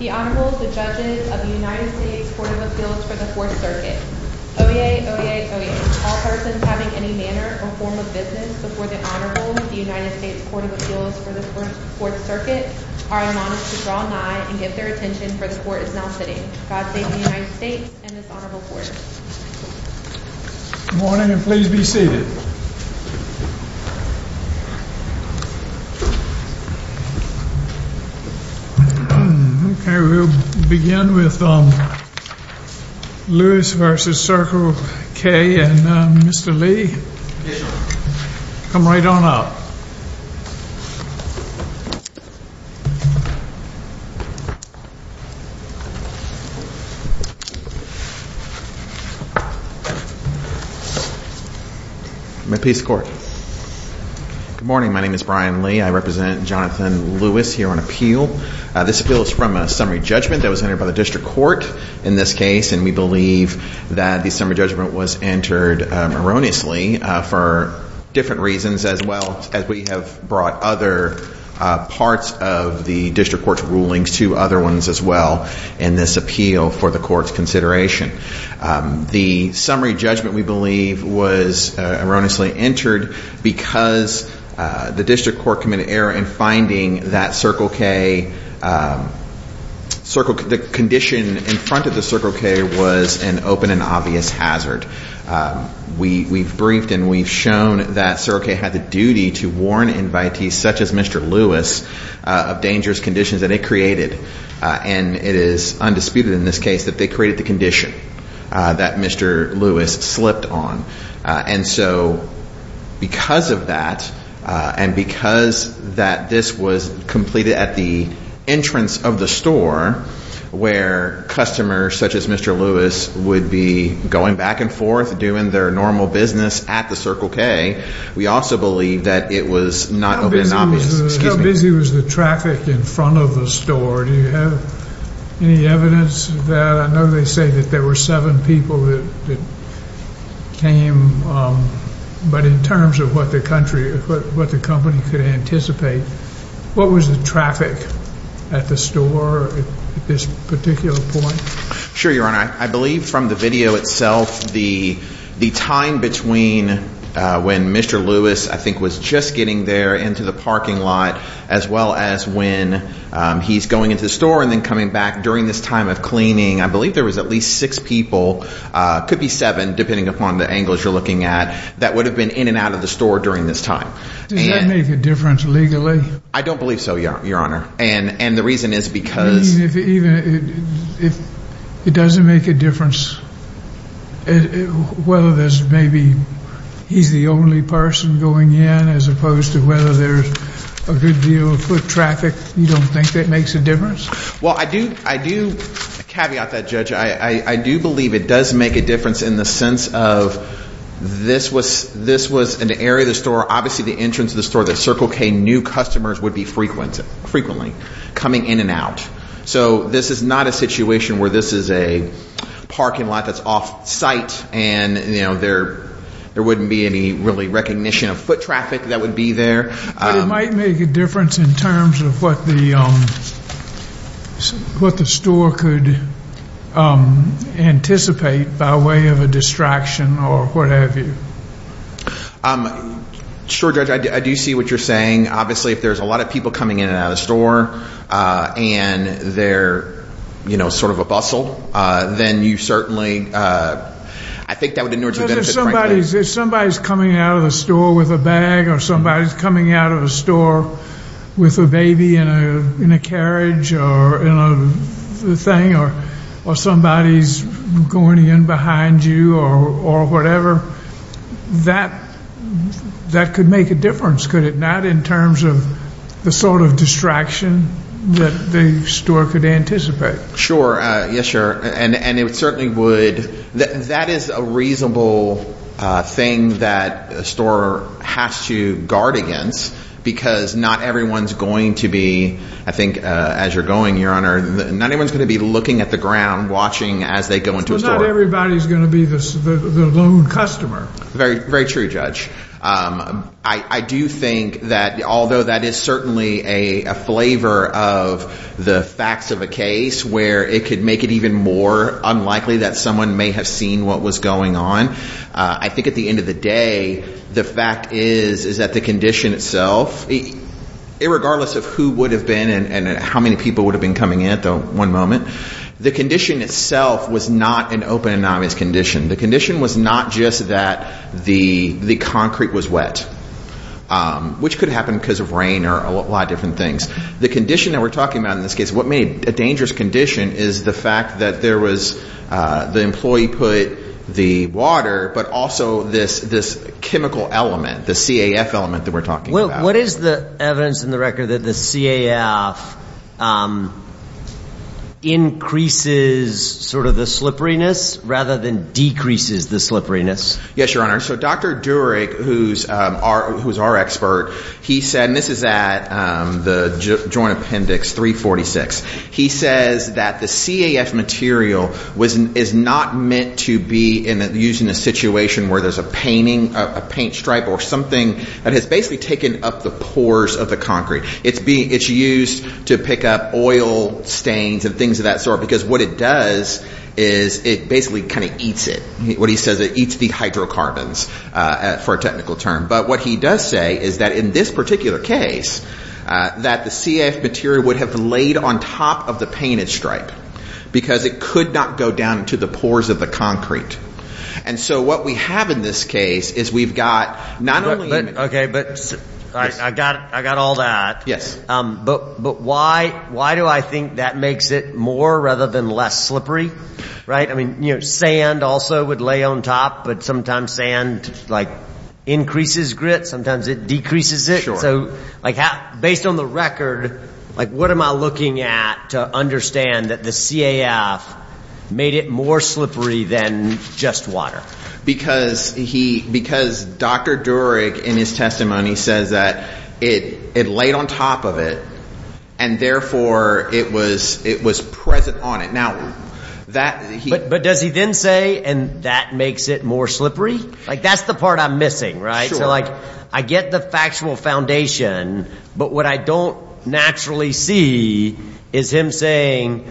The Honorable, the Judges of the United States Court of Appeals for the 4th Circuit. Oyez, oyez, oyez. All persons having any manner or form of business before the Honorable, the United States Court of Appeals for the 4th Circuit are admonished to draw nigh and give their attention for the Court is now sitting. God save the United States and this Honorable Court. Good morning and please be seated. Okay, we'll begin with Lewis v. Circle K and Mr. Lee. Come right on up. My piece of court. Good morning, my name is Brian Lee. I represent Jonathan Lewis here on appeal. This appeal is from a summary judgment that was entered by the District Court in this case and we believe that the summary judgment was entered erroneously for different reasons as well as we have brought other parts of the District Court's rulings to other ones as well in this appeal for the Court's consideration. The summary judgment we believe was erroneously entered because the District Court committed an error in finding that Circle K, the condition in front of the Circle K was an open and obvious hazard. We've briefed and we've shown that Circle K had the duty to warn invitees such as Mr. Lewis of dangerous conditions that it created and it is undisputed in this case that they created the condition that Mr. Lewis slipped on. And so because of that and because that this was completed at the entrance of the store where customers such as Mr. Lewis would be going back and forth doing their normal business at the Circle K, we also believe that it was not open and obvious. How busy was the traffic in front of the store? Do you have any evidence of that? I know they say that there were seven people that came, but in terms of what the company could anticipate, what was the traffic at the store at this particular point? Sure, Your Honor. I believe from the video itself the time between when Mr. Lewis, I think, was just getting there into the parking lot as well as when he's going into the store and then coming back during this time of cleaning, I believe there was at least six people, could be seven depending upon the angles you're looking at, that would have been in and out of the store during this time. Does that make a difference legally? I don't believe so, Your Honor. And the reason is because... Even if it doesn't make a difference, whether there's maybe he's the only person going in as opposed to whether there's a good deal of foot traffic, you don't think that makes a difference? Well, I do caveat that, Judge. I do believe it does make a difference in the sense of this was an area of the store, obviously the entrance of the store that Circle K knew customers would be frequently coming in and out. So this is not a situation where this is a parking lot that's off-site and there wouldn't be any really recognition of foot traffic that would be there. But it might make a difference in terms of what the store could anticipate by way of a distraction or what have you. Sure, Judge. I do see what you're saying. Obviously, if there's a lot of people coming in and out of the store and they're sort of a bustle, then you certainly... I think that would in order to benefit, frankly. If somebody's coming out of the store with a bag or somebody's coming out of the store with a baby in a carriage or in a thing or somebody's going in behind you or whatever, that could make a difference, could it not, in terms of the sort of distraction that the store could anticipate? Sure. Yes, sure. And it certainly would. That is a reasonable thing that a store has to guard against because not everyone's going to be, I think as you're going, Your Honor, not everyone's going to be looking at the ground, watching as they go into a store. So not everybody's going to be the lone customer. Very true, Judge. I do think that although that is certainly a flavor of the facts of a case where it could make it even more unlikely that someone may have seen what was going on, I think at the end of the day the fact is that the condition itself, irregardless of who would have been and how many people would have been coming in at one moment, the condition itself was not an open anonymous condition. The condition was not just that the concrete was wet, which could happen because of rain or a lot of different things. The condition that we're talking about in this case, what made a dangerous condition, is the fact that there was the employee put the water but also this chemical element, the CAF element that we're talking about. What is the evidence in the record that the CAF increases the slipperiness rather than decreases the slipperiness? Yes, Your Honor. So Dr. Durek, who's our expert, he said, and this is at the Joint Appendix 346, he says that the CAF material is not meant to be used in a situation where there's a paint stripe or something that has basically taken up the pores of the concrete. It's used to pick up oil stains and things of that sort because what it does is it basically kind of eats it. What he says, it eats the hydrocarbons for a technical term. But what he does say is that in this particular case that the CAF material would have laid on top of the painted stripe because it could not go down to the pores of the concrete. And so what we have in this case is we've got not only... Okay, but I got all that. But why do I think that makes it more rather than less slippery, right? I mean, sand also would lay on top, but sometimes sand like increases grit, sometimes it decreases it. Based on the record, what am I looking at to understand that the CAF made it more slippery than just water? Because Dr. Durek in his testimony says that it laid on top of it and therefore it was present on it. But does he then say, and that makes it more slippery? That's the part I'm missing, right? I get the factual foundation, but what I don't naturally see is him saying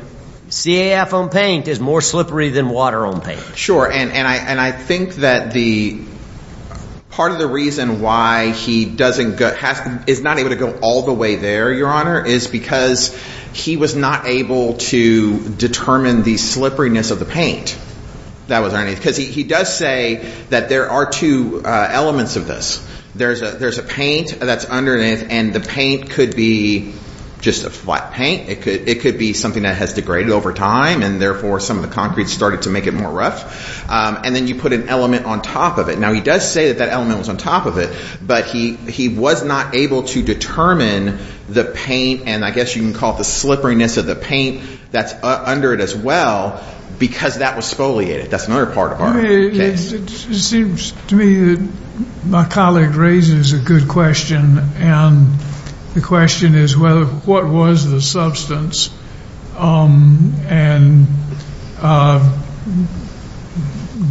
CAF on paint is more slippery than water on paint. Sure, and I think that part of the reason why he is not able to go all the way there, Your Honor, is because he was not able to determine the slipperiness of the paint. Because he does say that there are two elements of this. There's a paint that's underneath, and the paint could be just a flat paint. It could be something that has degraded over time, and therefore some of the concrete started to make it more rough. And then you put an element on top of it. Now, he does say that that element was on top of it, but he was not able to determine the paint, and I guess you can call it the slipperiness of the paint that's under it as well, because that was spoliated. That's another part of our case. It seems to me that my colleague raises a good question. And the question is what was the substance, and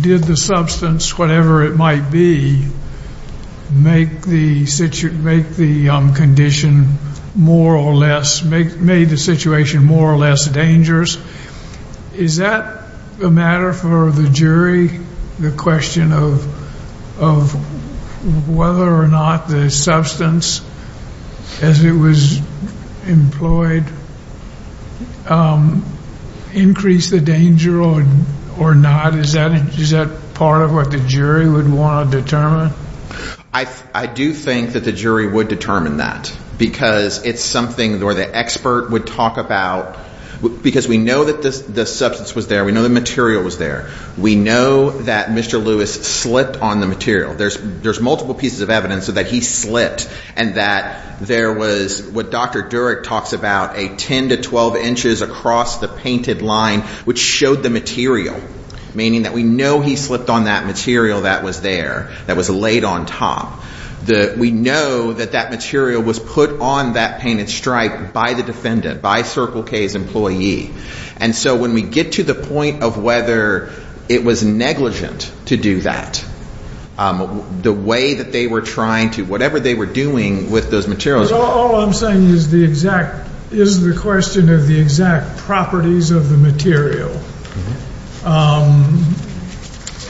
did the substance, whatever it might be, make the condition more or less, made the situation more or less dangerous? Is that a matter for the jury, the question of whether or not the substance, as it was employed, increased the danger or not? Is that part of what the jury would want to determine? I do think that the jury would determine that, because it's something where the expert would talk about, because we know that the substance was there. We know the material was there. We know that Mr. Lewis slipped on the material. There's multiple pieces of evidence that he slipped, and that there was what Dr. Durek talks about, a 10 to 12 inches across the painted line, which showed the material, meaning that we know he slipped on that material that was there, that was laid on top. We know that that material was put on that painted stripe by the defendant, by Circle K's employee. And so when we get to the point of whether it was negligent to do that, the way that they were trying to, whatever they were doing with those materials. Because all I'm saying is the exact, is the question of the exact properties of the material,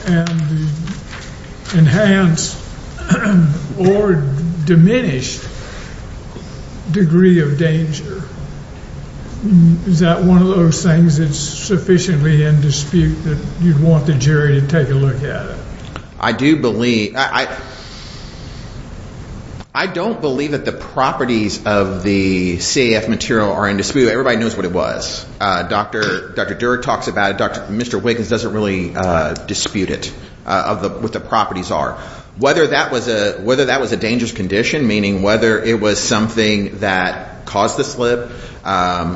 and the enhanced or diminished degree of danger. Is that one of those things that's sufficiently in dispute that you'd want the jury to take a look at it? I do believe, I don't believe that the properties of the CAF material are in dispute. Everybody knows what it was. Dr. Durek talks about it. Mr. Wiggins doesn't really dispute it, what the properties are. Whether that was a dangerous condition, meaning whether it was something that caused the slip,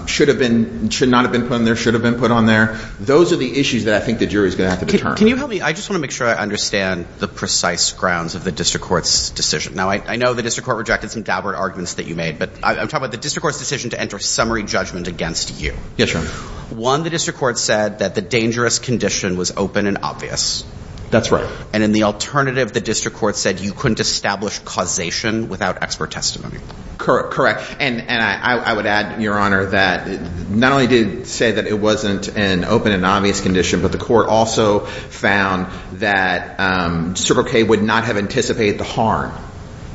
should not have been put on there, should have been put on there, those are the issues that I think the jury is going to have to determine. Can you help me? I just want to make sure I understand the precise grounds of the district court's decision. Now, I know the district court rejected some dabbler arguments that you made, but I'm talking about the district court's decision to enter summary judgment against you. Yes, Your Honor. One, the district court said that the dangerous condition was open and obvious. That's right. And in the alternative, the district court said you couldn't establish causation without expert testimony. Correct. And I would add, Your Honor, that not only did it say that it wasn't an open and obvious condition, but the court also found that Circle K would not have anticipated the harm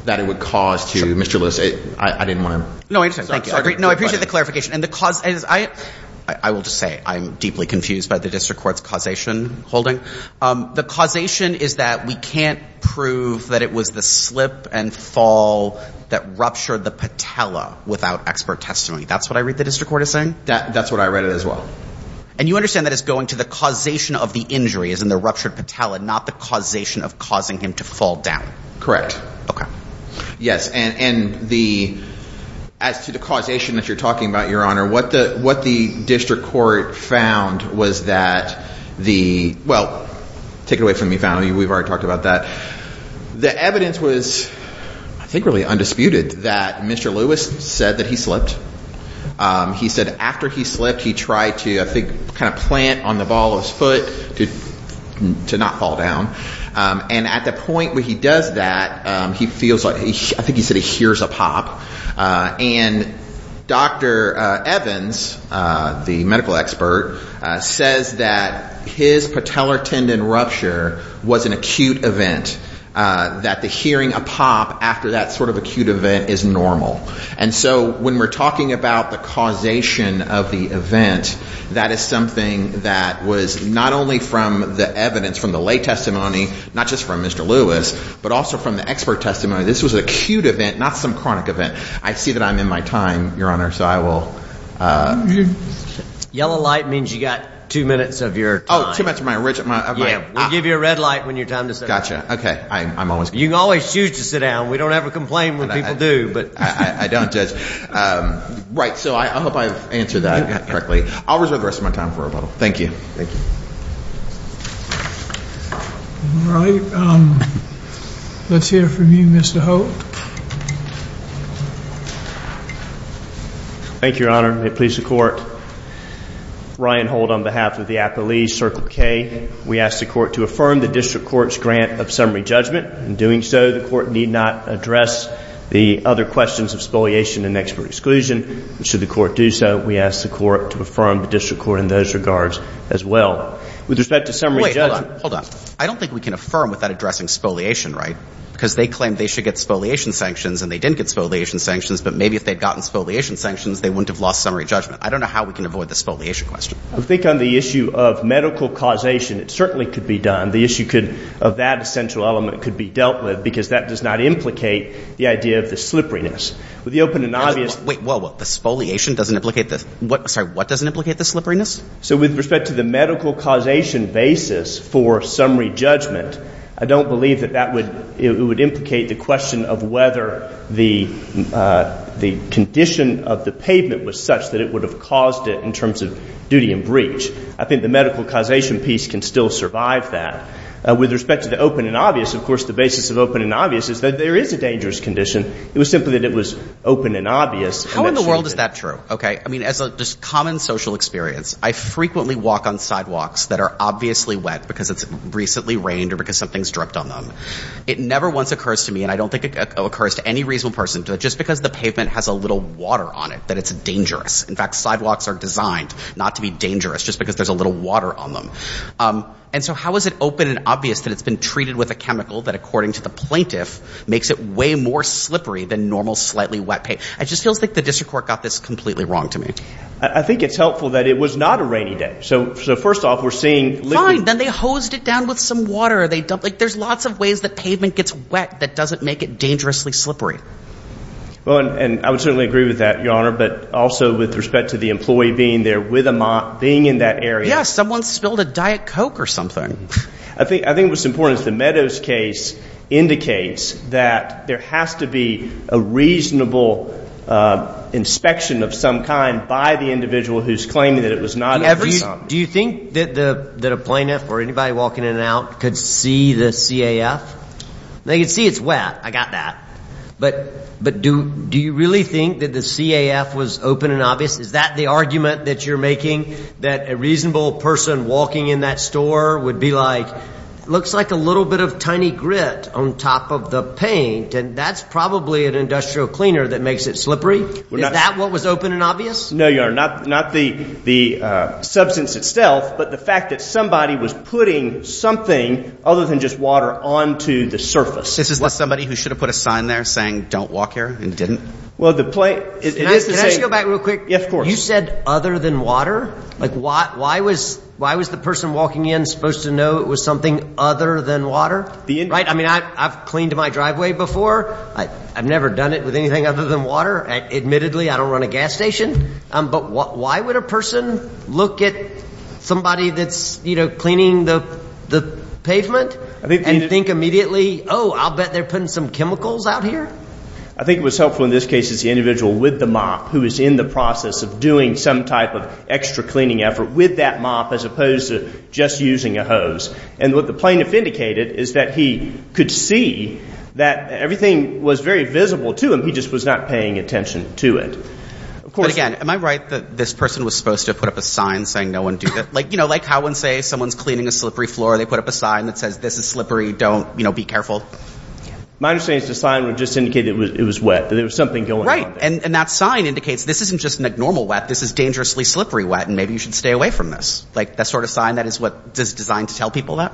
that it would cause to Mr. Lewis. I didn't want to— No, I understand. Thank you. No, I appreciate the clarification. I will just say I'm deeply confused by the district court's causation holding. The causation is that we can't prove that it was the slip and fall that ruptured the patella without expert testimony. That's what I read the district court as saying? That's what I read it as well. And you understand that it's going to the causation of the injury, as in the ruptured patella, not the causation of causing him to fall down? Correct. Okay. Yes. And the—as to the causation that you're talking about, Your Honor, what the district court found was that the—well, take it away from me, family. We've already talked about that. The evidence was, I think, really undisputed that Mr. Lewis said that he slipped. He said after he slipped, he tried to, I think, kind of plant on the ball of his foot to not fall down. And at the point where he does that, he feels like—I think he said he hears a pop. And Dr. Evans, the medical expert, says that his patellar tendon rupture was an acute event, that the hearing a pop after that sort of acute event is normal. And so when we're talking about the causation of the event, that is something that was not only from the evidence, from the lay testimony, not just from Mr. Lewis, but also from the expert testimony. This was an acute event, not some chronic event. I see that I'm in my time, Your Honor, so I will— Yellow light means you've got two minutes of your time. Oh, two minutes of my original— Yeah. We'll give you a red light when you're time to sit down. Gotcha. Okay. I'm always— You can always choose to sit down. We don't ever complain when people do, but— I don't, Judge. Right, so I hope I answered that correctly. I'll reserve the rest of my time for rebuttal. Thank you. Thank you. All right. Let's hear from you, Mr. Holt. Thank you, Your Honor. May it please the Court. Ryan Holt on behalf of the appellees, Circle K. We ask the Court to affirm the district court's grant of summary judgment. In doing so, the Court need not address the other questions of spoliation and expert exclusion. Should the Court do so, we ask the Court to affirm the district court in those regards as well. With respect to summary judgment— Wait, hold on. Hold on. I don't think we can affirm without addressing spoliation, right? Because they claim they should get spoliation sanctions, and they didn't get spoliation sanctions, but maybe if they'd gotten spoliation sanctions, they wouldn't have lost summary judgment. I don't know how we can avoid the spoliation question. I think on the issue of medical causation, it certainly could be done. The issue of that essential element could be dealt with because that does not implicate the idea of the slipperiness. With the open and obvious— Wait, whoa, whoa. The spoliation doesn't implicate the—sorry, what doesn't implicate the slipperiness? So with respect to the medical causation basis for summary judgment, I don't believe that that would—it would implicate the question of whether the condition of the pavement was such that it would have caused it in terms of duty and breach. I think the medical causation piece can still survive that. With respect to the open and obvious, of course, the basis of open and obvious is that there is a dangerous condition. It was simply that it was open and obvious. How in the world is that true? Okay. I mean, as a common social experience, I frequently walk on sidewalks that are obviously wet because it's recently rained or because something's dripped on them. It never once occurs to me, and I don't think it occurs to any reasonable person, just because the pavement has a little water on it, that it's dangerous. In fact, sidewalks are designed not to be dangerous just because there's a little water on them. And so how is it open and obvious that it's been treated with a chemical that, according to the plaintiff, makes it way more slippery than normal, slightly wet pavement? It just feels like the district court got this completely wrong to me. I think it's helpful that it was not a rainy day. So, first off, we're seeing liquid. Fine, then they hosed it down with some water. There's lots of ways that pavement gets wet that doesn't make it dangerously slippery. Well, and I would certainly agree with that, Your Honor, but also with respect to the employee being there with a mop, being in that area. Yeah, someone spilled a Diet Coke or something. I think what's important is the Meadows case indicates that there has to be a reasonable inspection of some kind by the individual who's claiming that it was not open and obvious. Do you think that a plaintiff or anybody walking in and out could see the CAF? They can see it's wet. I got that. But do you really think that the CAF was open and obvious? Is that the argument that you're making, that a reasonable person walking in that store would be like, looks like a little bit of tiny grit on top of the paint, and that's probably an industrial cleaner that makes it slippery? Is that what was open and obvious? No, Your Honor, not the substance itself, but the fact that somebody was putting something other than just water onto the surface. This is somebody who should have put a sign there saying don't walk here and didn't? Can I just go back real quick? Yes, of course. You said other than water? Why was the person walking in supposed to know it was something other than water? I mean, I've cleaned my driveway before. I've never done it with anything other than water. Admittedly, I don't run a gas station. But why would a person look at somebody that's cleaning the pavement and think immediately, oh, I'll bet they're putting some chemicals out here? I think what's helpful in this case is the individual with the mop who is in the process of doing some type of extra cleaning effort with that mop as opposed to just using a hose. And what the plaintiff indicated is that he could see that everything was very visible to him. He just was not paying attention to it. But again, am I right that this person was supposed to have put up a sign saying no one do that? Like how when, say, someone's cleaning a slippery floor, they put up a sign that says this is slippery, don't, you know, be careful? My understanding is the sign would just indicate that it was wet, that there was something going on there. And that sign indicates this isn't just normal wet. This is dangerously slippery wet, and maybe you should stay away from this. Like that sort of sign, that is what is designed to tell people that?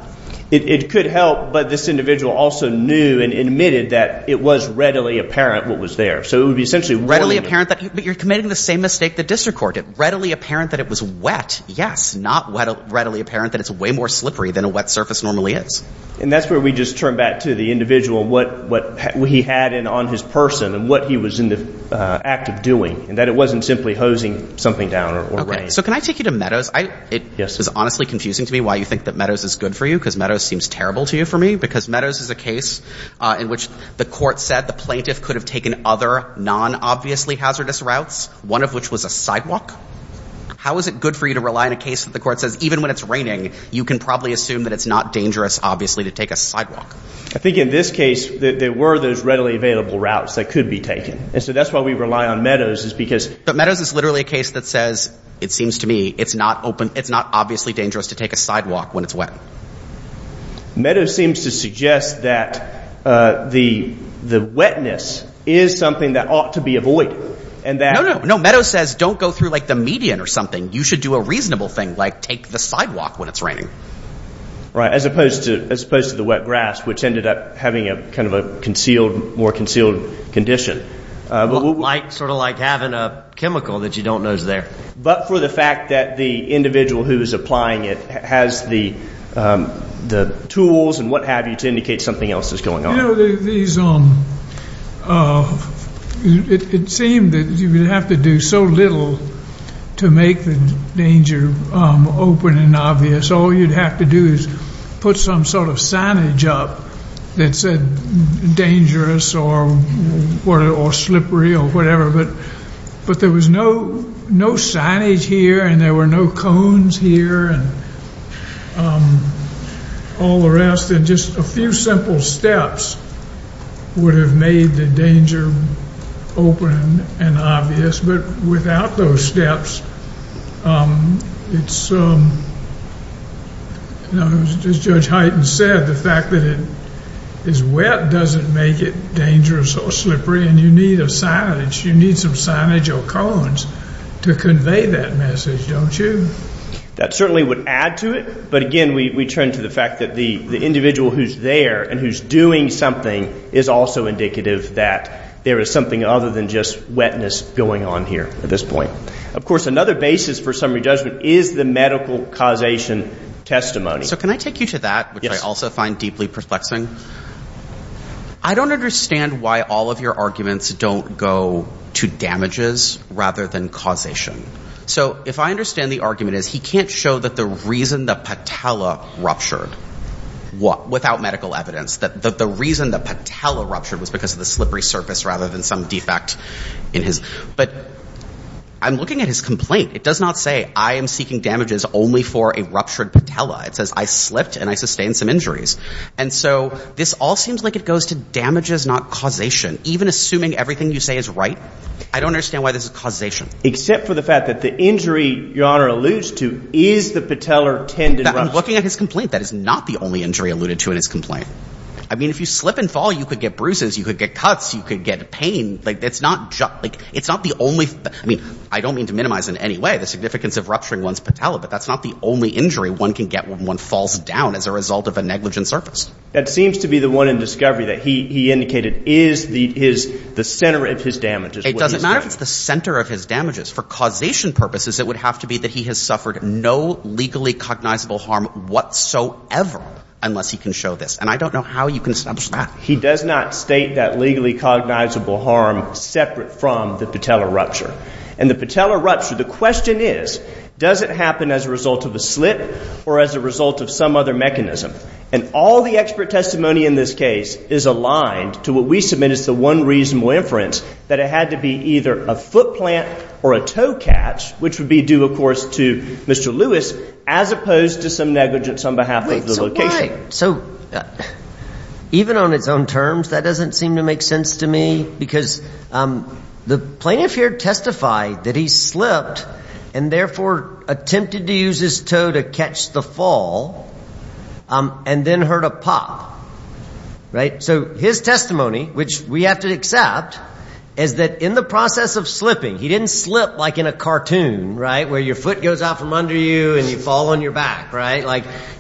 It could help, but this individual also knew and admitted that it was readily apparent what was there. So it would be essentially warning you. But you're committing the same mistake the district court did, readily apparent that it was wet. Yes, not readily apparent that it's way more slippery than a wet surface normally is. And that's where we just turn back to the individual and what he had on his person and what he was in the act of doing. And that it wasn't simply hosing something down or rain. So can I take you to Meadows? It is honestly confusing to me why you think that Meadows is good for you, because Meadows seems terrible to you for me. Because Meadows is a case in which the court said the plaintiff could have taken other non-obviously hazardous routes, one of which was a sidewalk. How is it good for you to rely on a case that the court says even when it's raining, you can probably assume that it's not dangerous, obviously, to take a sidewalk? I think in this case there were those readily available routes that could be taken. And so that's why we rely on Meadows is because – But Meadows is literally a case that says it seems to me it's not obviously dangerous to take a sidewalk when it's wet. Meadows seems to suggest that the wetness is something that ought to be avoided. No, no. No, Meadows says don't go through like the median or something. You should do a reasonable thing like take the sidewalk when it's raining. Right, as opposed to the wet grass, which ended up having a kind of a concealed – more concealed condition. Sort of like having a chemical that you don't know is there. But for the fact that the individual who is applying it has the tools and what have you to indicate something else is going on. You know, these – it seemed that you would have to do so little to make the danger open and obvious. All you'd have to do is put some sort of signage up that said dangerous or slippery or whatever. But there was no signage here and there were no cones here and all the rest. And just a few simple steps would have made the danger open and obvious. But without those steps, it's – as Judge Hyten said, the fact that it is wet doesn't make it dangerous or slippery. And you need a signage. You need some signage or cones to convey that message, don't you? That certainly would add to it. But again, we turn to the fact that the individual who's there and who's doing something is also indicative that there is something other than just wetness going on here at this point. Of course, another basis for summary judgment is the medical causation testimony. So can I take you to that, which I also find deeply perplexing? I don't understand why all of your arguments don't go to damages rather than causation. So if I understand the argument is he can't show that the reason the patella ruptured without medical evidence, that the reason the patella ruptured was because of the slippery surface rather than some defect in his – but I'm looking at his complaint. It does not say I am seeking damages only for a ruptured patella. It says I slipped and I sustained some injuries. And so this all seems like it goes to damages, not causation. Even assuming everything you say is right, I don't understand why this is causation. Except for the fact that the injury Your Honor alludes to is the patella tendon rupture. I'm looking at his complaint. That is not the only injury alluded to in his complaint. I mean if you slip and fall, you could get bruises. You could get cuts. You could get pain. It's not the only – I mean I don't mean to minimize in any way the significance of rupturing one's patella. But that's not the only injury one can get when one falls down as a result of a negligent surface. That seems to be the one in discovery that he indicated is the center of his damages. It doesn't matter if it's the center of his damages. For causation purposes, it would have to be that he has suffered no legally cognizable harm whatsoever unless he can show this. And I don't know how you can establish that. He does not state that legally cognizable harm separate from the patella rupture. And the patella rupture, the question is, does it happen as a result of a slip or as a result of some other mechanism? And all the expert testimony in this case is aligned to what we submit as the one reasonable inference, that it had to be either a foot plant or a toe catch, which would be due, of course, to Mr. Lewis, as opposed to some negligence on behalf of the location. OK, so even on its own terms, that doesn't seem to make sense to me because the plaintiff here testified that he slipped and therefore attempted to use his toe to catch the fall and then heard a pop. So his testimony, which we have to accept, is that in the process of slipping, he didn't slip like in a cartoon where your foot goes out from under you and you fall on your back.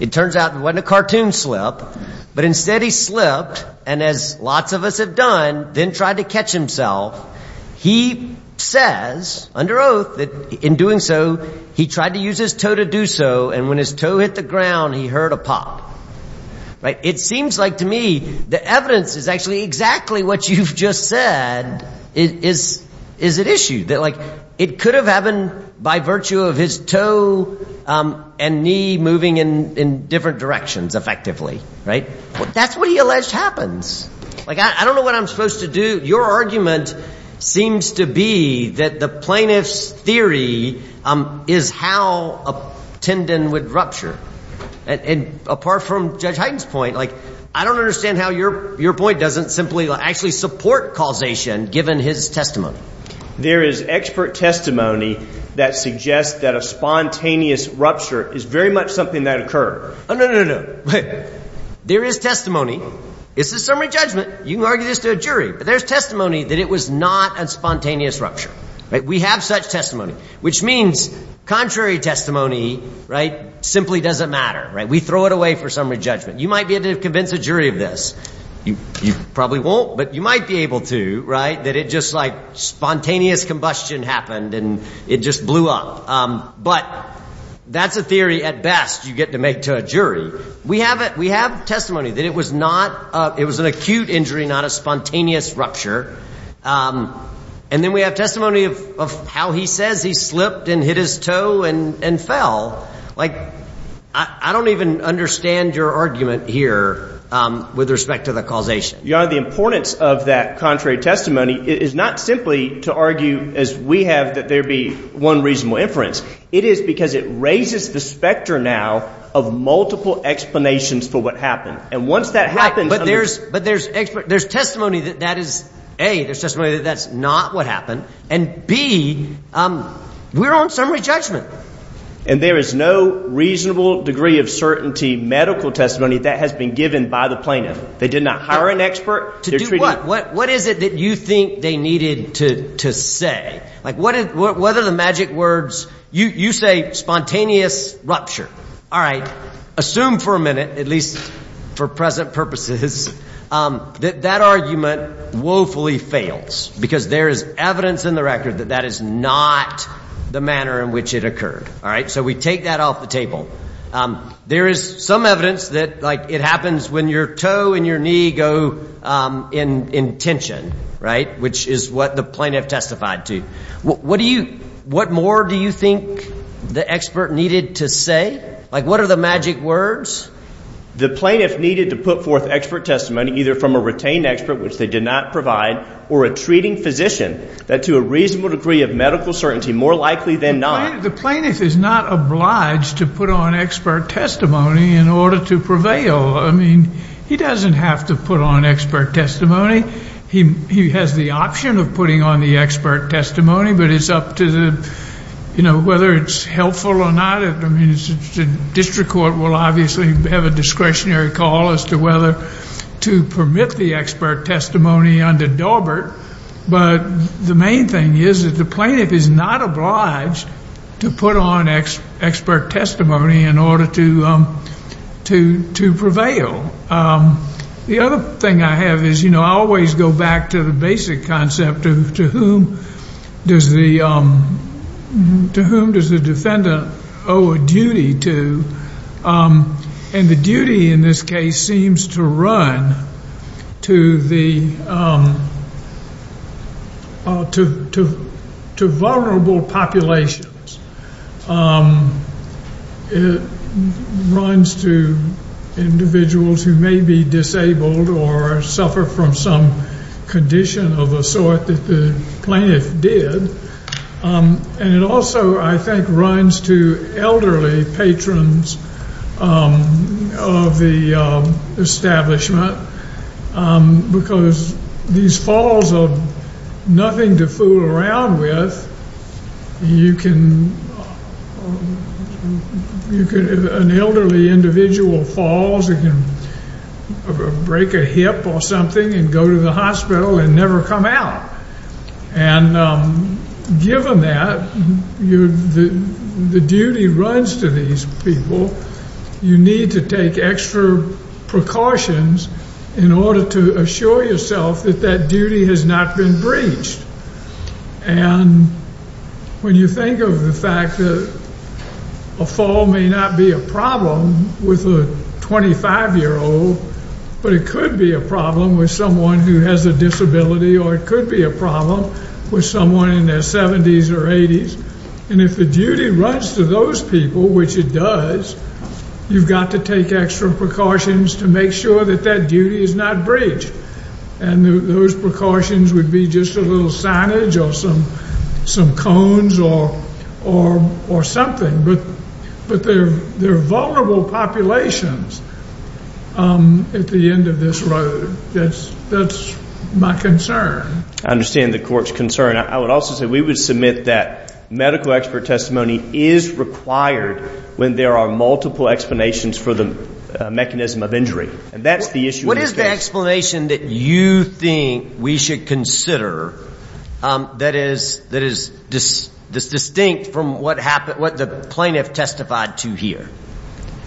It turns out it wasn't a cartoon slip, but instead he slipped and, as lots of us have done, then tried to catch himself. He says under oath that in doing so, he tried to use his toe to do so. And when his toe hit the ground, he heard a pop. It seems like to me the evidence is actually exactly what you've just said is at issue. Like, it could have happened by virtue of his toe and knee moving in different directions effectively, right? That's what he alleged happens. Like, I don't know what I'm supposed to do. Your argument seems to be that the plaintiff's theory is how a tendon would rupture. And apart from Judge Hyten's point, like, I don't understand how your point doesn't simply actually support causation given his testimony. There is expert testimony that suggests that a spontaneous rupture is very much something that occurred. No, no, no, no. There is testimony. It's a summary judgment. You can argue this to a jury. But there's testimony that it was not a spontaneous rupture. We have such testimony, which means contrary testimony simply doesn't matter. We throw it away for summary judgment. You might be able to convince a jury of this. You probably won't. But you might be able to, right, that it just, like, spontaneous combustion happened and it just blew up. But that's a theory at best you get to make to a jury. We have testimony that it was an acute injury, not a spontaneous rupture. And then we have testimony of how he says he slipped and hit his toe and fell. Like, I don't even understand your argument here with respect to the causation. Your Honor, the importance of that contrary testimony is not simply to argue, as we have, that there be one reasonable inference. It is because it raises the specter now of multiple explanations for what happened. And once that happens— Right, but there's testimony that that is, A, there's testimony that that's not what happened, and, B, we're on summary judgment. And there is no reasonable degree of certainty medical testimony that has been given by the plaintiff. They did not hire an expert. To do what? What is it that you think they needed to say? Like, what are the magic words? You say spontaneous rupture. All right. Assume for a minute, at least for present purposes, that that argument woefully fails because there is evidence in the record that that is not the manner in which it occurred. All right, so we take that off the table. There is some evidence that, like, it happens when your toe and your knee go in tension, right, which is what the plaintiff testified to. What do you—what more do you think the expert needed to say? Like, what are the magic words? The plaintiff needed to put forth expert testimony either from a retained expert, which they did not provide, or a treating physician that, to a reasonable degree of medical certainty, more likely than not— in order to prevail. I mean, he doesn't have to put on expert testimony. He has the option of putting on the expert testimony, but it's up to the—you know, whether it's helpful or not. I mean, the district court will obviously have a discretionary call as to whether to permit the expert testimony under Daubert. But the main thing is that the plaintiff is not obliged to put on expert testimony in order to prevail. The other thing I have is, you know, I always go back to the basic concept of to whom does the—to whom does the defendant owe a duty to? And the duty in this case seems to run to the—to vulnerable populations. It runs to individuals who may be disabled or suffer from some condition of a sort that the plaintiff did. And it also, I think, runs to elderly patrons of the establishment, because these falls are nothing to fool around with. You can—an elderly individual falls and can break a hip or something and go to the hospital and never come out. And given that, the duty runs to these people. You need to take extra precautions in order to assure yourself that that duty has not been breached. And when you think of the fact that a fall may not be a problem with a 25-year-old, but it could be a problem with someone who has a disability or it could be a problem with someone in their 70s or 80s. And if the duty runs to those people, which it does, you've got to take extra precautions to make sure that that duty is not breached. And those precautions would be just a little signage or some cones or something. But they're vulnerable populations at the end of this road. That's my concern. I understand the court's concern. I would also say we would submit that medical expert testimony is required when there are multiple explanations for the mechanism of injury. And that's the issue in this case. Is there a condition that you think we should consider that is distinct from what the plaintiff testified to here?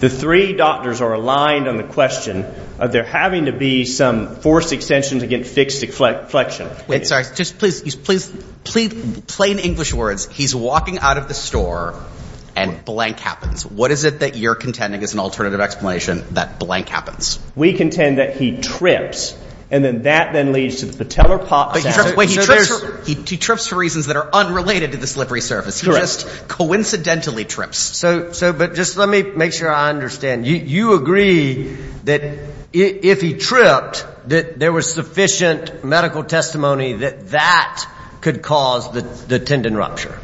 The three doctors are aligned on the question of there having to be some forced extension to get fixed inflection. Sorry, just please use plain English words. He's walking out of the store and blank happens. What is it that you're contending is an alternative explanation that blank happens? We contend that he trips. And then that then leads to the patellar pop. He trips for reasons that are unrelated to the slippery surface. He just coincidentally trips. So just let me make sure I understand. You agree that if he tripped, that there was sufficient medical testimony that that could cause the tendon rupture?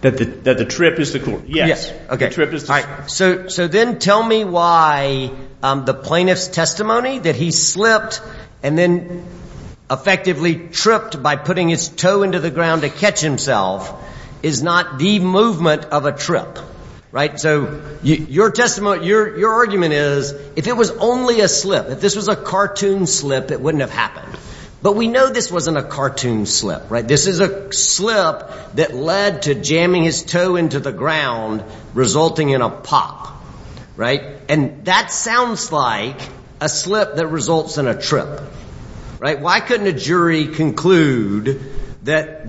That the trip is the cause. Yes. Okay. All right. So then tell me why the plaintiff's testimony that he slipped and then effectively tripped by putting his toe into the ground to catch himself is not the movement of a trip. Right. So your argument is if it was only a slip, if this was a cartoon slip, it wouldn't have happened. But we know this wasn't a cartoon slip. Right. This is a slip that led to jamming his toe into the ground, resulting in a pop. Right. And that sounds like a slip that results in a trip. Right. Why couldn't a jury conclude that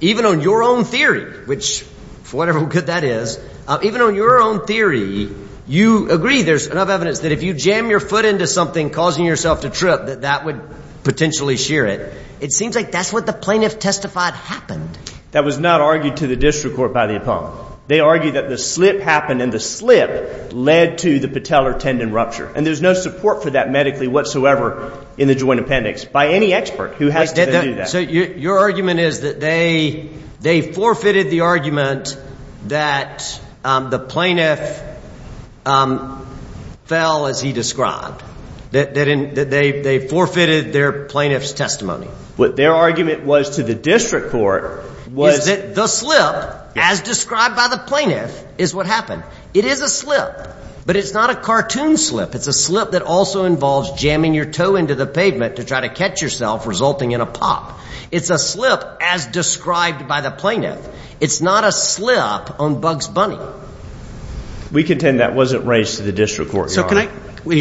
even on your own theory, which for whatever good that is, even on your own theory, you agree there's enough evidence that if you jam your foot into something causing yourself to trip, that that would potentially shear it. It seems like that's what the plaintiff testified happened. That was not argued to the district court by the opponent. They argued that the slip happened and the slip led to the patellar tendon rupture. And there's no support for that medically whatsoever in the joint appendix by any expert who has to do that. So your argument is that they forfeited the argument that the plaintiff fell, as he described, that they forfeited their plaintiff's testimony. What their argument was to the district court was that the slip, as described by the plaintiff, is what happened. It is a slip, but it's not a cartoon slip. It's a slip that also involves jamming your toe into the pavement to try to catch yourself, resulting in a pop. It's a slip, as described by the plaintiff. It's not a slip on Bugs Bunny. We contend that wasn't raised to the district court, Your Honor. Would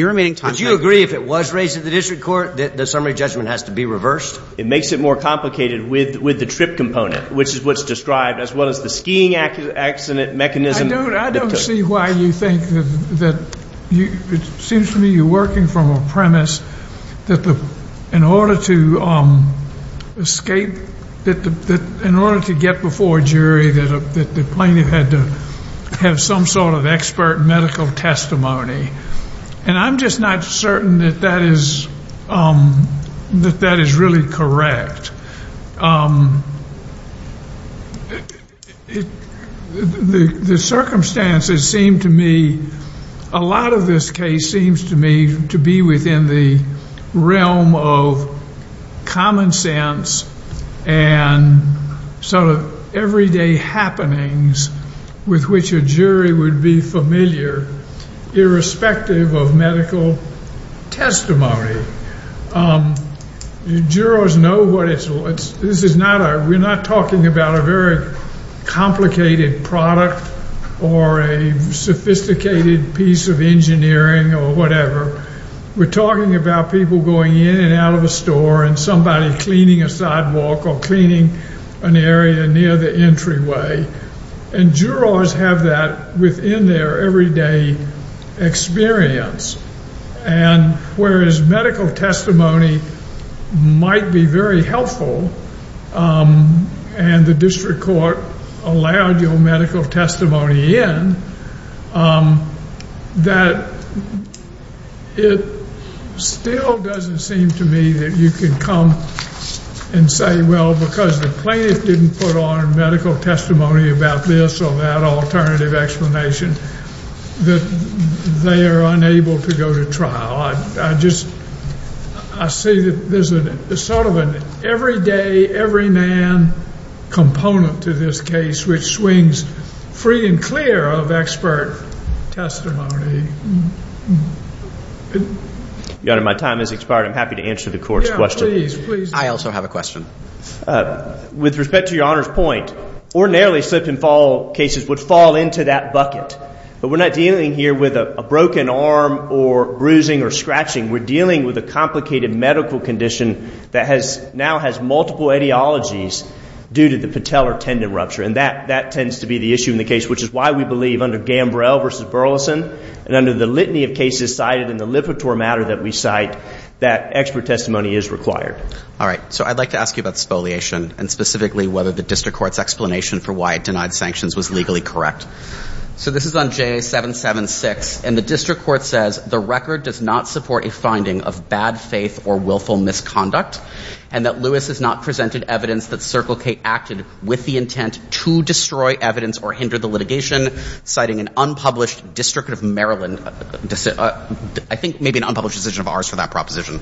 you agree if it was raised to the district court that the summary judgment has to be reversed? It makes it more complicated with the trip component, which is what's described, as well as the skiing accident mechanism. I don't see why you think that it seems to me you're working from a premise that in order to escape, in order to get before a jury that the plaintiff had to have some sort of expert medical testimony. And I'm just not certain that that is really correct. The circumstances seem to me, a lot of this case seems to me to be within the realm of common sense and sort of everyday happenings with which a jury would be familiar, irrespective of medical testimony. Jurors know what it's like. We're not talking about a very complicated product or a sophisticated piece of engineering or whatever. We're talking about people going in and out of a store and somebody cleaning a sidewalk or cleaning an area near the entryway. And jurors have that within their everyday experience. And whereas medical testimony might be very helpful, and the district court allowed your medical testimony in, that it still doesn't seem to me that you can come and say, well, because the plaintiff didn't put on medical testimony about this or that alternative explanation, that they are unable to go to trial. I just see that there's sort of an everyday, everyman component to this case, which swings free and clear of expert testimony. Your Honor, my time has expired. I'm happy to answer the court's question. Yeah, please, please. I also have a question. With respect to Your Honor's point, ordinarily slip and fall cases would fall into that bucket. But we're not dealing here with a broken arm or bruising or scratching. We're dealing with a complicated medical condition that now has multiple etiologies due to the patellar tendon rupture. And that tends to be the issue in the case, which is why we believe under Gambrell v. Burleson and under the litany of cases cited in the Lipitor matter that we cite, that expert testimony is required. All right. So I'd like to ask you about spoliation, and specifically whether the district court's explanation for why it denied sanctions was legally correct. So this is on JA-776. And the district court says the record does not support a finding of bad faith or willful misconduct and that Lewis has not presented evidence that Circle K acted with the intent to destroy evidence or hinder the litigation, citing an unpublished District of Maryland, I think maybe an unpublished decision of ours for that proposition.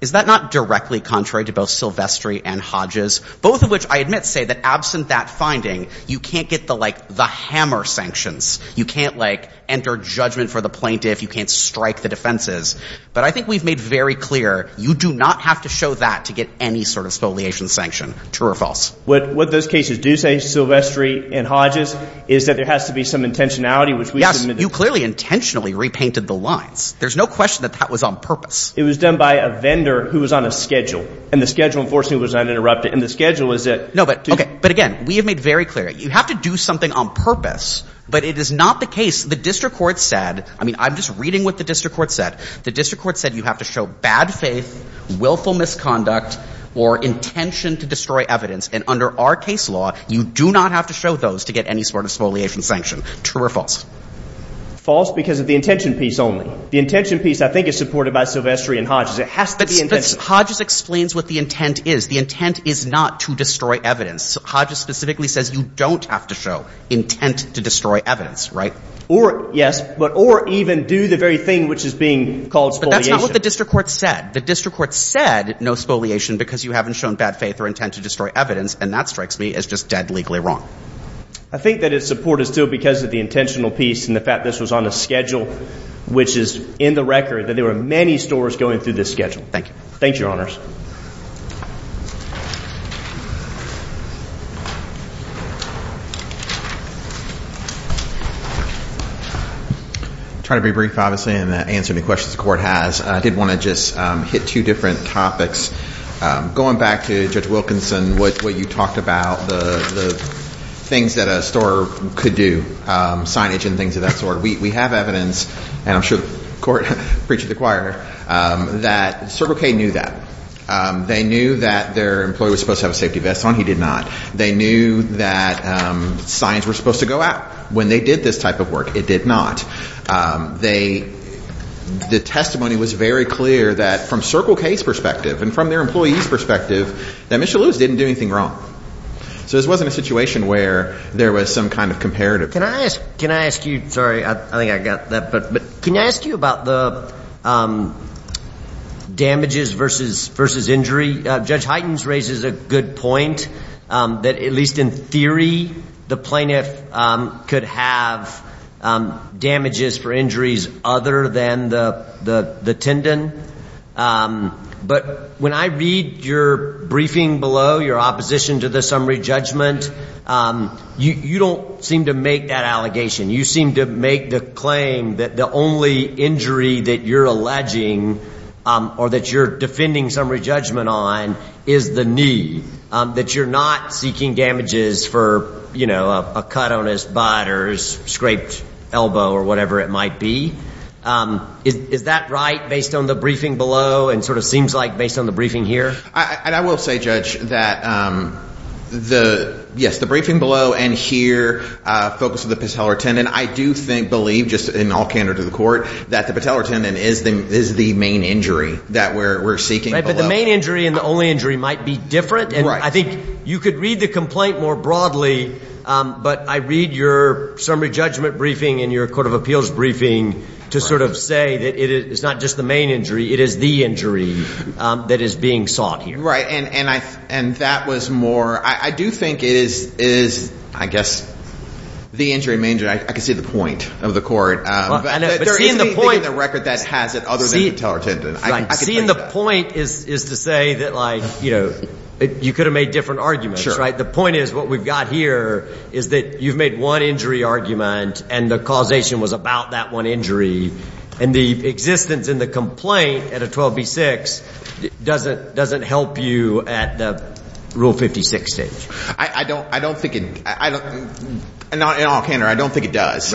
Is that not directly contrary to both Silvestri and Hodges, both of which I admit say that absent that finding, you can't get the, like, the hammer sanctions. You can't, like, enter judgment for the plaintiff. You can't strike the defenses. But I think we've made very clear you do not have to show that to get any sort of spoliation sanction, true or false. What those cases do say, Silvestri and Hodges, is that there has to be some intentionality, which we've submitted. Yes. You clearly intentionally repainted the lines. There's no question that that was on purpose. It was done by a vendor who was on a schedule. And the schedule, unfortunately, was uninterrupted. And the schedule is that – No, but – okay. But, again, we have made very clear you have to do something on purpose. But it is not the case the district court said – I mean, I'm just reading what the district court said. The district court said you have to show bad faith, willful misconduct, or intention to destroy evidence. And under our case law, you do not have to show those to get any sort of spoliation sanction. True or false? False because of the intention piece only. The intention piece, I think, is supported by Silvestri and Hodges. It has to be – But Hodges explains what the intent is. The intent is not to destroy evidence. Hodges specifically says you don't have to show intent to destroy evidence, right? Or – yes. But – or even do the very thing which is being called spoliation. But that's not what the district court said. The district court said no spoliation because you haven't shown bad faith or intent to destroy evidence. And that strikes me as just dead legally wrong. I think that it's supported still because of the intentional piece and the fact this was on a schedule, which is in the record that there were many stores going through this schedule. Thank you. Thank you, Your Honors. I'll try to be brief, obviously, and answer any questions the court has. I did want to just hit two different topics. Going back to Judge Wilkinson, what you talked about, the things that a store could do, signage and things of that sort. We have evidence, and I'm sure the court preaches the choir, that Circle K knew that. They knew that their employee was supposed to have a safety vest on. He did not. They knew that signs were supposed to go out when they did this type of work. It did not. The testimony was very clear that from Circle K's perspective and from their employee's perspective that Mr. Luce didn't do anything wrong. So this wasn't a situation where there was some kind of comparative. Can I ask you about the damages versus injury? Judge Heitens raises a good point that at least in theory the plaintiff could have damages for injuries other than the tendon. But when I read your briefing below, your opposition to the summary judgment, you don't seem to make that allegation. You seem to make the claim that the only injury that you're alleging or that you're defending summary judgment on is the knee, that you're not seeking damages for a cut on his butt or his scraped elbow or whatever it might be. Is that right based on the briefing below and sort of seems like based on the briefing here? I will say, Judge, that yes, the briefing below and here focus on the patellar tendon. I do believe, just in all candor to the court, that the patellar tendon is the main injury that we're seeking. But the main injury and the only injury might be different. And I think you could read the complaint more broadly. But I read your summary judgment briefing and your court of appeals briefing to sort of say that it is not just the main injury. It is the injury that is being sought here. And that was more I do think it is, I guess, the injury, main injury. I can see the point of the court. But seeing the point. There is nothing in the record that has it other than the patellar tendon. Seeing the point is to say that you could have made different arguments. Sure. The point is what we've got here is that you've made one injury argument and the causation was about that one injury. And the existence in the complaint at a 12B6 doesn't help you at the Rule 56 stage. I don't think it does.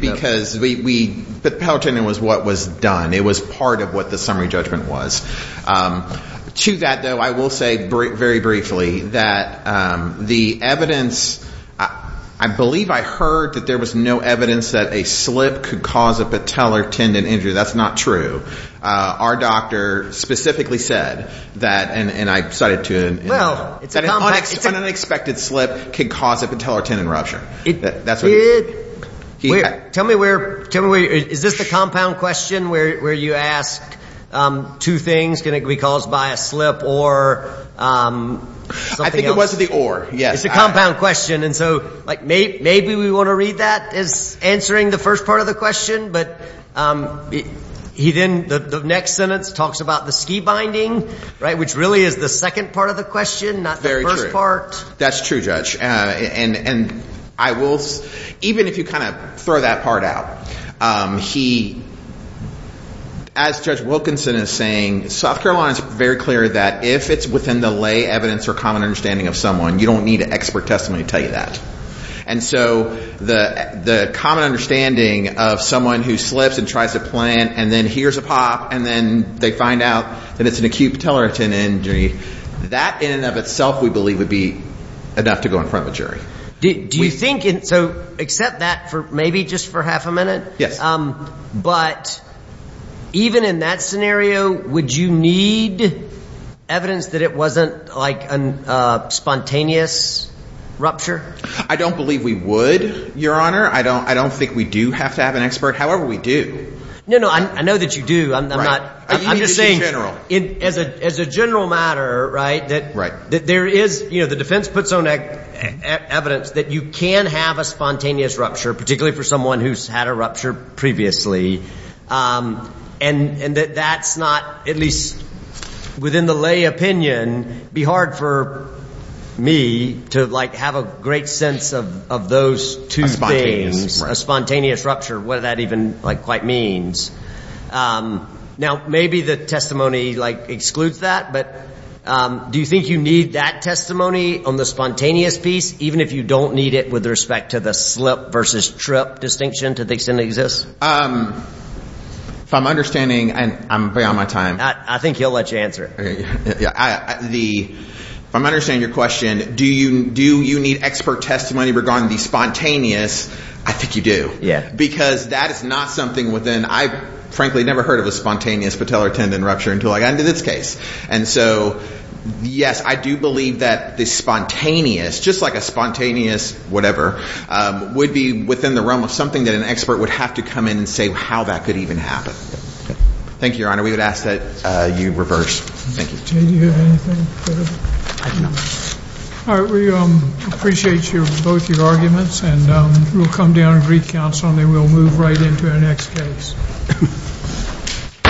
Because the patellar tendon was what was done. It was part of what the summary judgment was. To that, though, I will say very briefly that the evidence, I believe I heard that there was no evidence that a slip could cause a patellar tendon injury. That's not true. Our doctor specifically said that, and I cited to it, that an unexpected slip could cause a patellar tendon rupture. Tell me, is this the compound question where you ask two things? Can it be caused by a slip or something else? I think it was the or, yes. It's a compound question. And so maybe we want to read that as answering the first part of the question. But he then, the next sentence talks about the ski binding, which really is the second part of the question, not the first part. That's true, Judge. And I will, even if you kind of throw that part out, he, as Judge Wilkinson is saying, South Carolina is very clear that if it's within the lay evidence or common understanding of someone, you don't need an expert testimony to tell you that. And so the common understanding of someone who slips and tries to plant and then hears a pop and then they find out that it's an acute patellar tendon injury, that in and of itself we believe would be enough to go in front of a jury. Do you think, so accept that for maybe just for half a minute. Yes. But even in that scenario, would you need evidence that it wasn't like a spontaneous rupture? I don't believe we would, Your Honor. I don't think we do have to have an expert. However, we do. No, no. I know that you do. I'm just saying as a general matter, right, that there is, you know, the defense puts on evidence that you can have a spontaneous rupture, particularly for someone who's had a rupture previously, and that that's not, at least within the lay opinion, be hard for me to like have a great sense of those two things, a spontaneous rupture, what that even like quite means. Now, maybe the testimony like excludes that, but do you think you need that testimony on the spontaneous piece, even if you don't need it with respect to the slip versus trip distinction to the extent it exists? If I'm understanding, and I'm way on my time. I think he'll let you answer it. If I'm understanding your question, do you need expert testimony regarding the spontaneous? I think you do. Yeah. Because that is not something within, I frankly never heard of a spontaneous patellar tendon rupture until I got into this case. And so, yes, I do believe that the spontaneous, just like a spontaneous whatever, would be within the realm of something that an expert would have to come in and say how that could even happen. Thank you, Your Honor. We would ask that you reverse. Thank you. Do you have anything further? No. All right. We appreciate both your arguments, and we'll come down and greet counsel, and then we'll move right into our next case.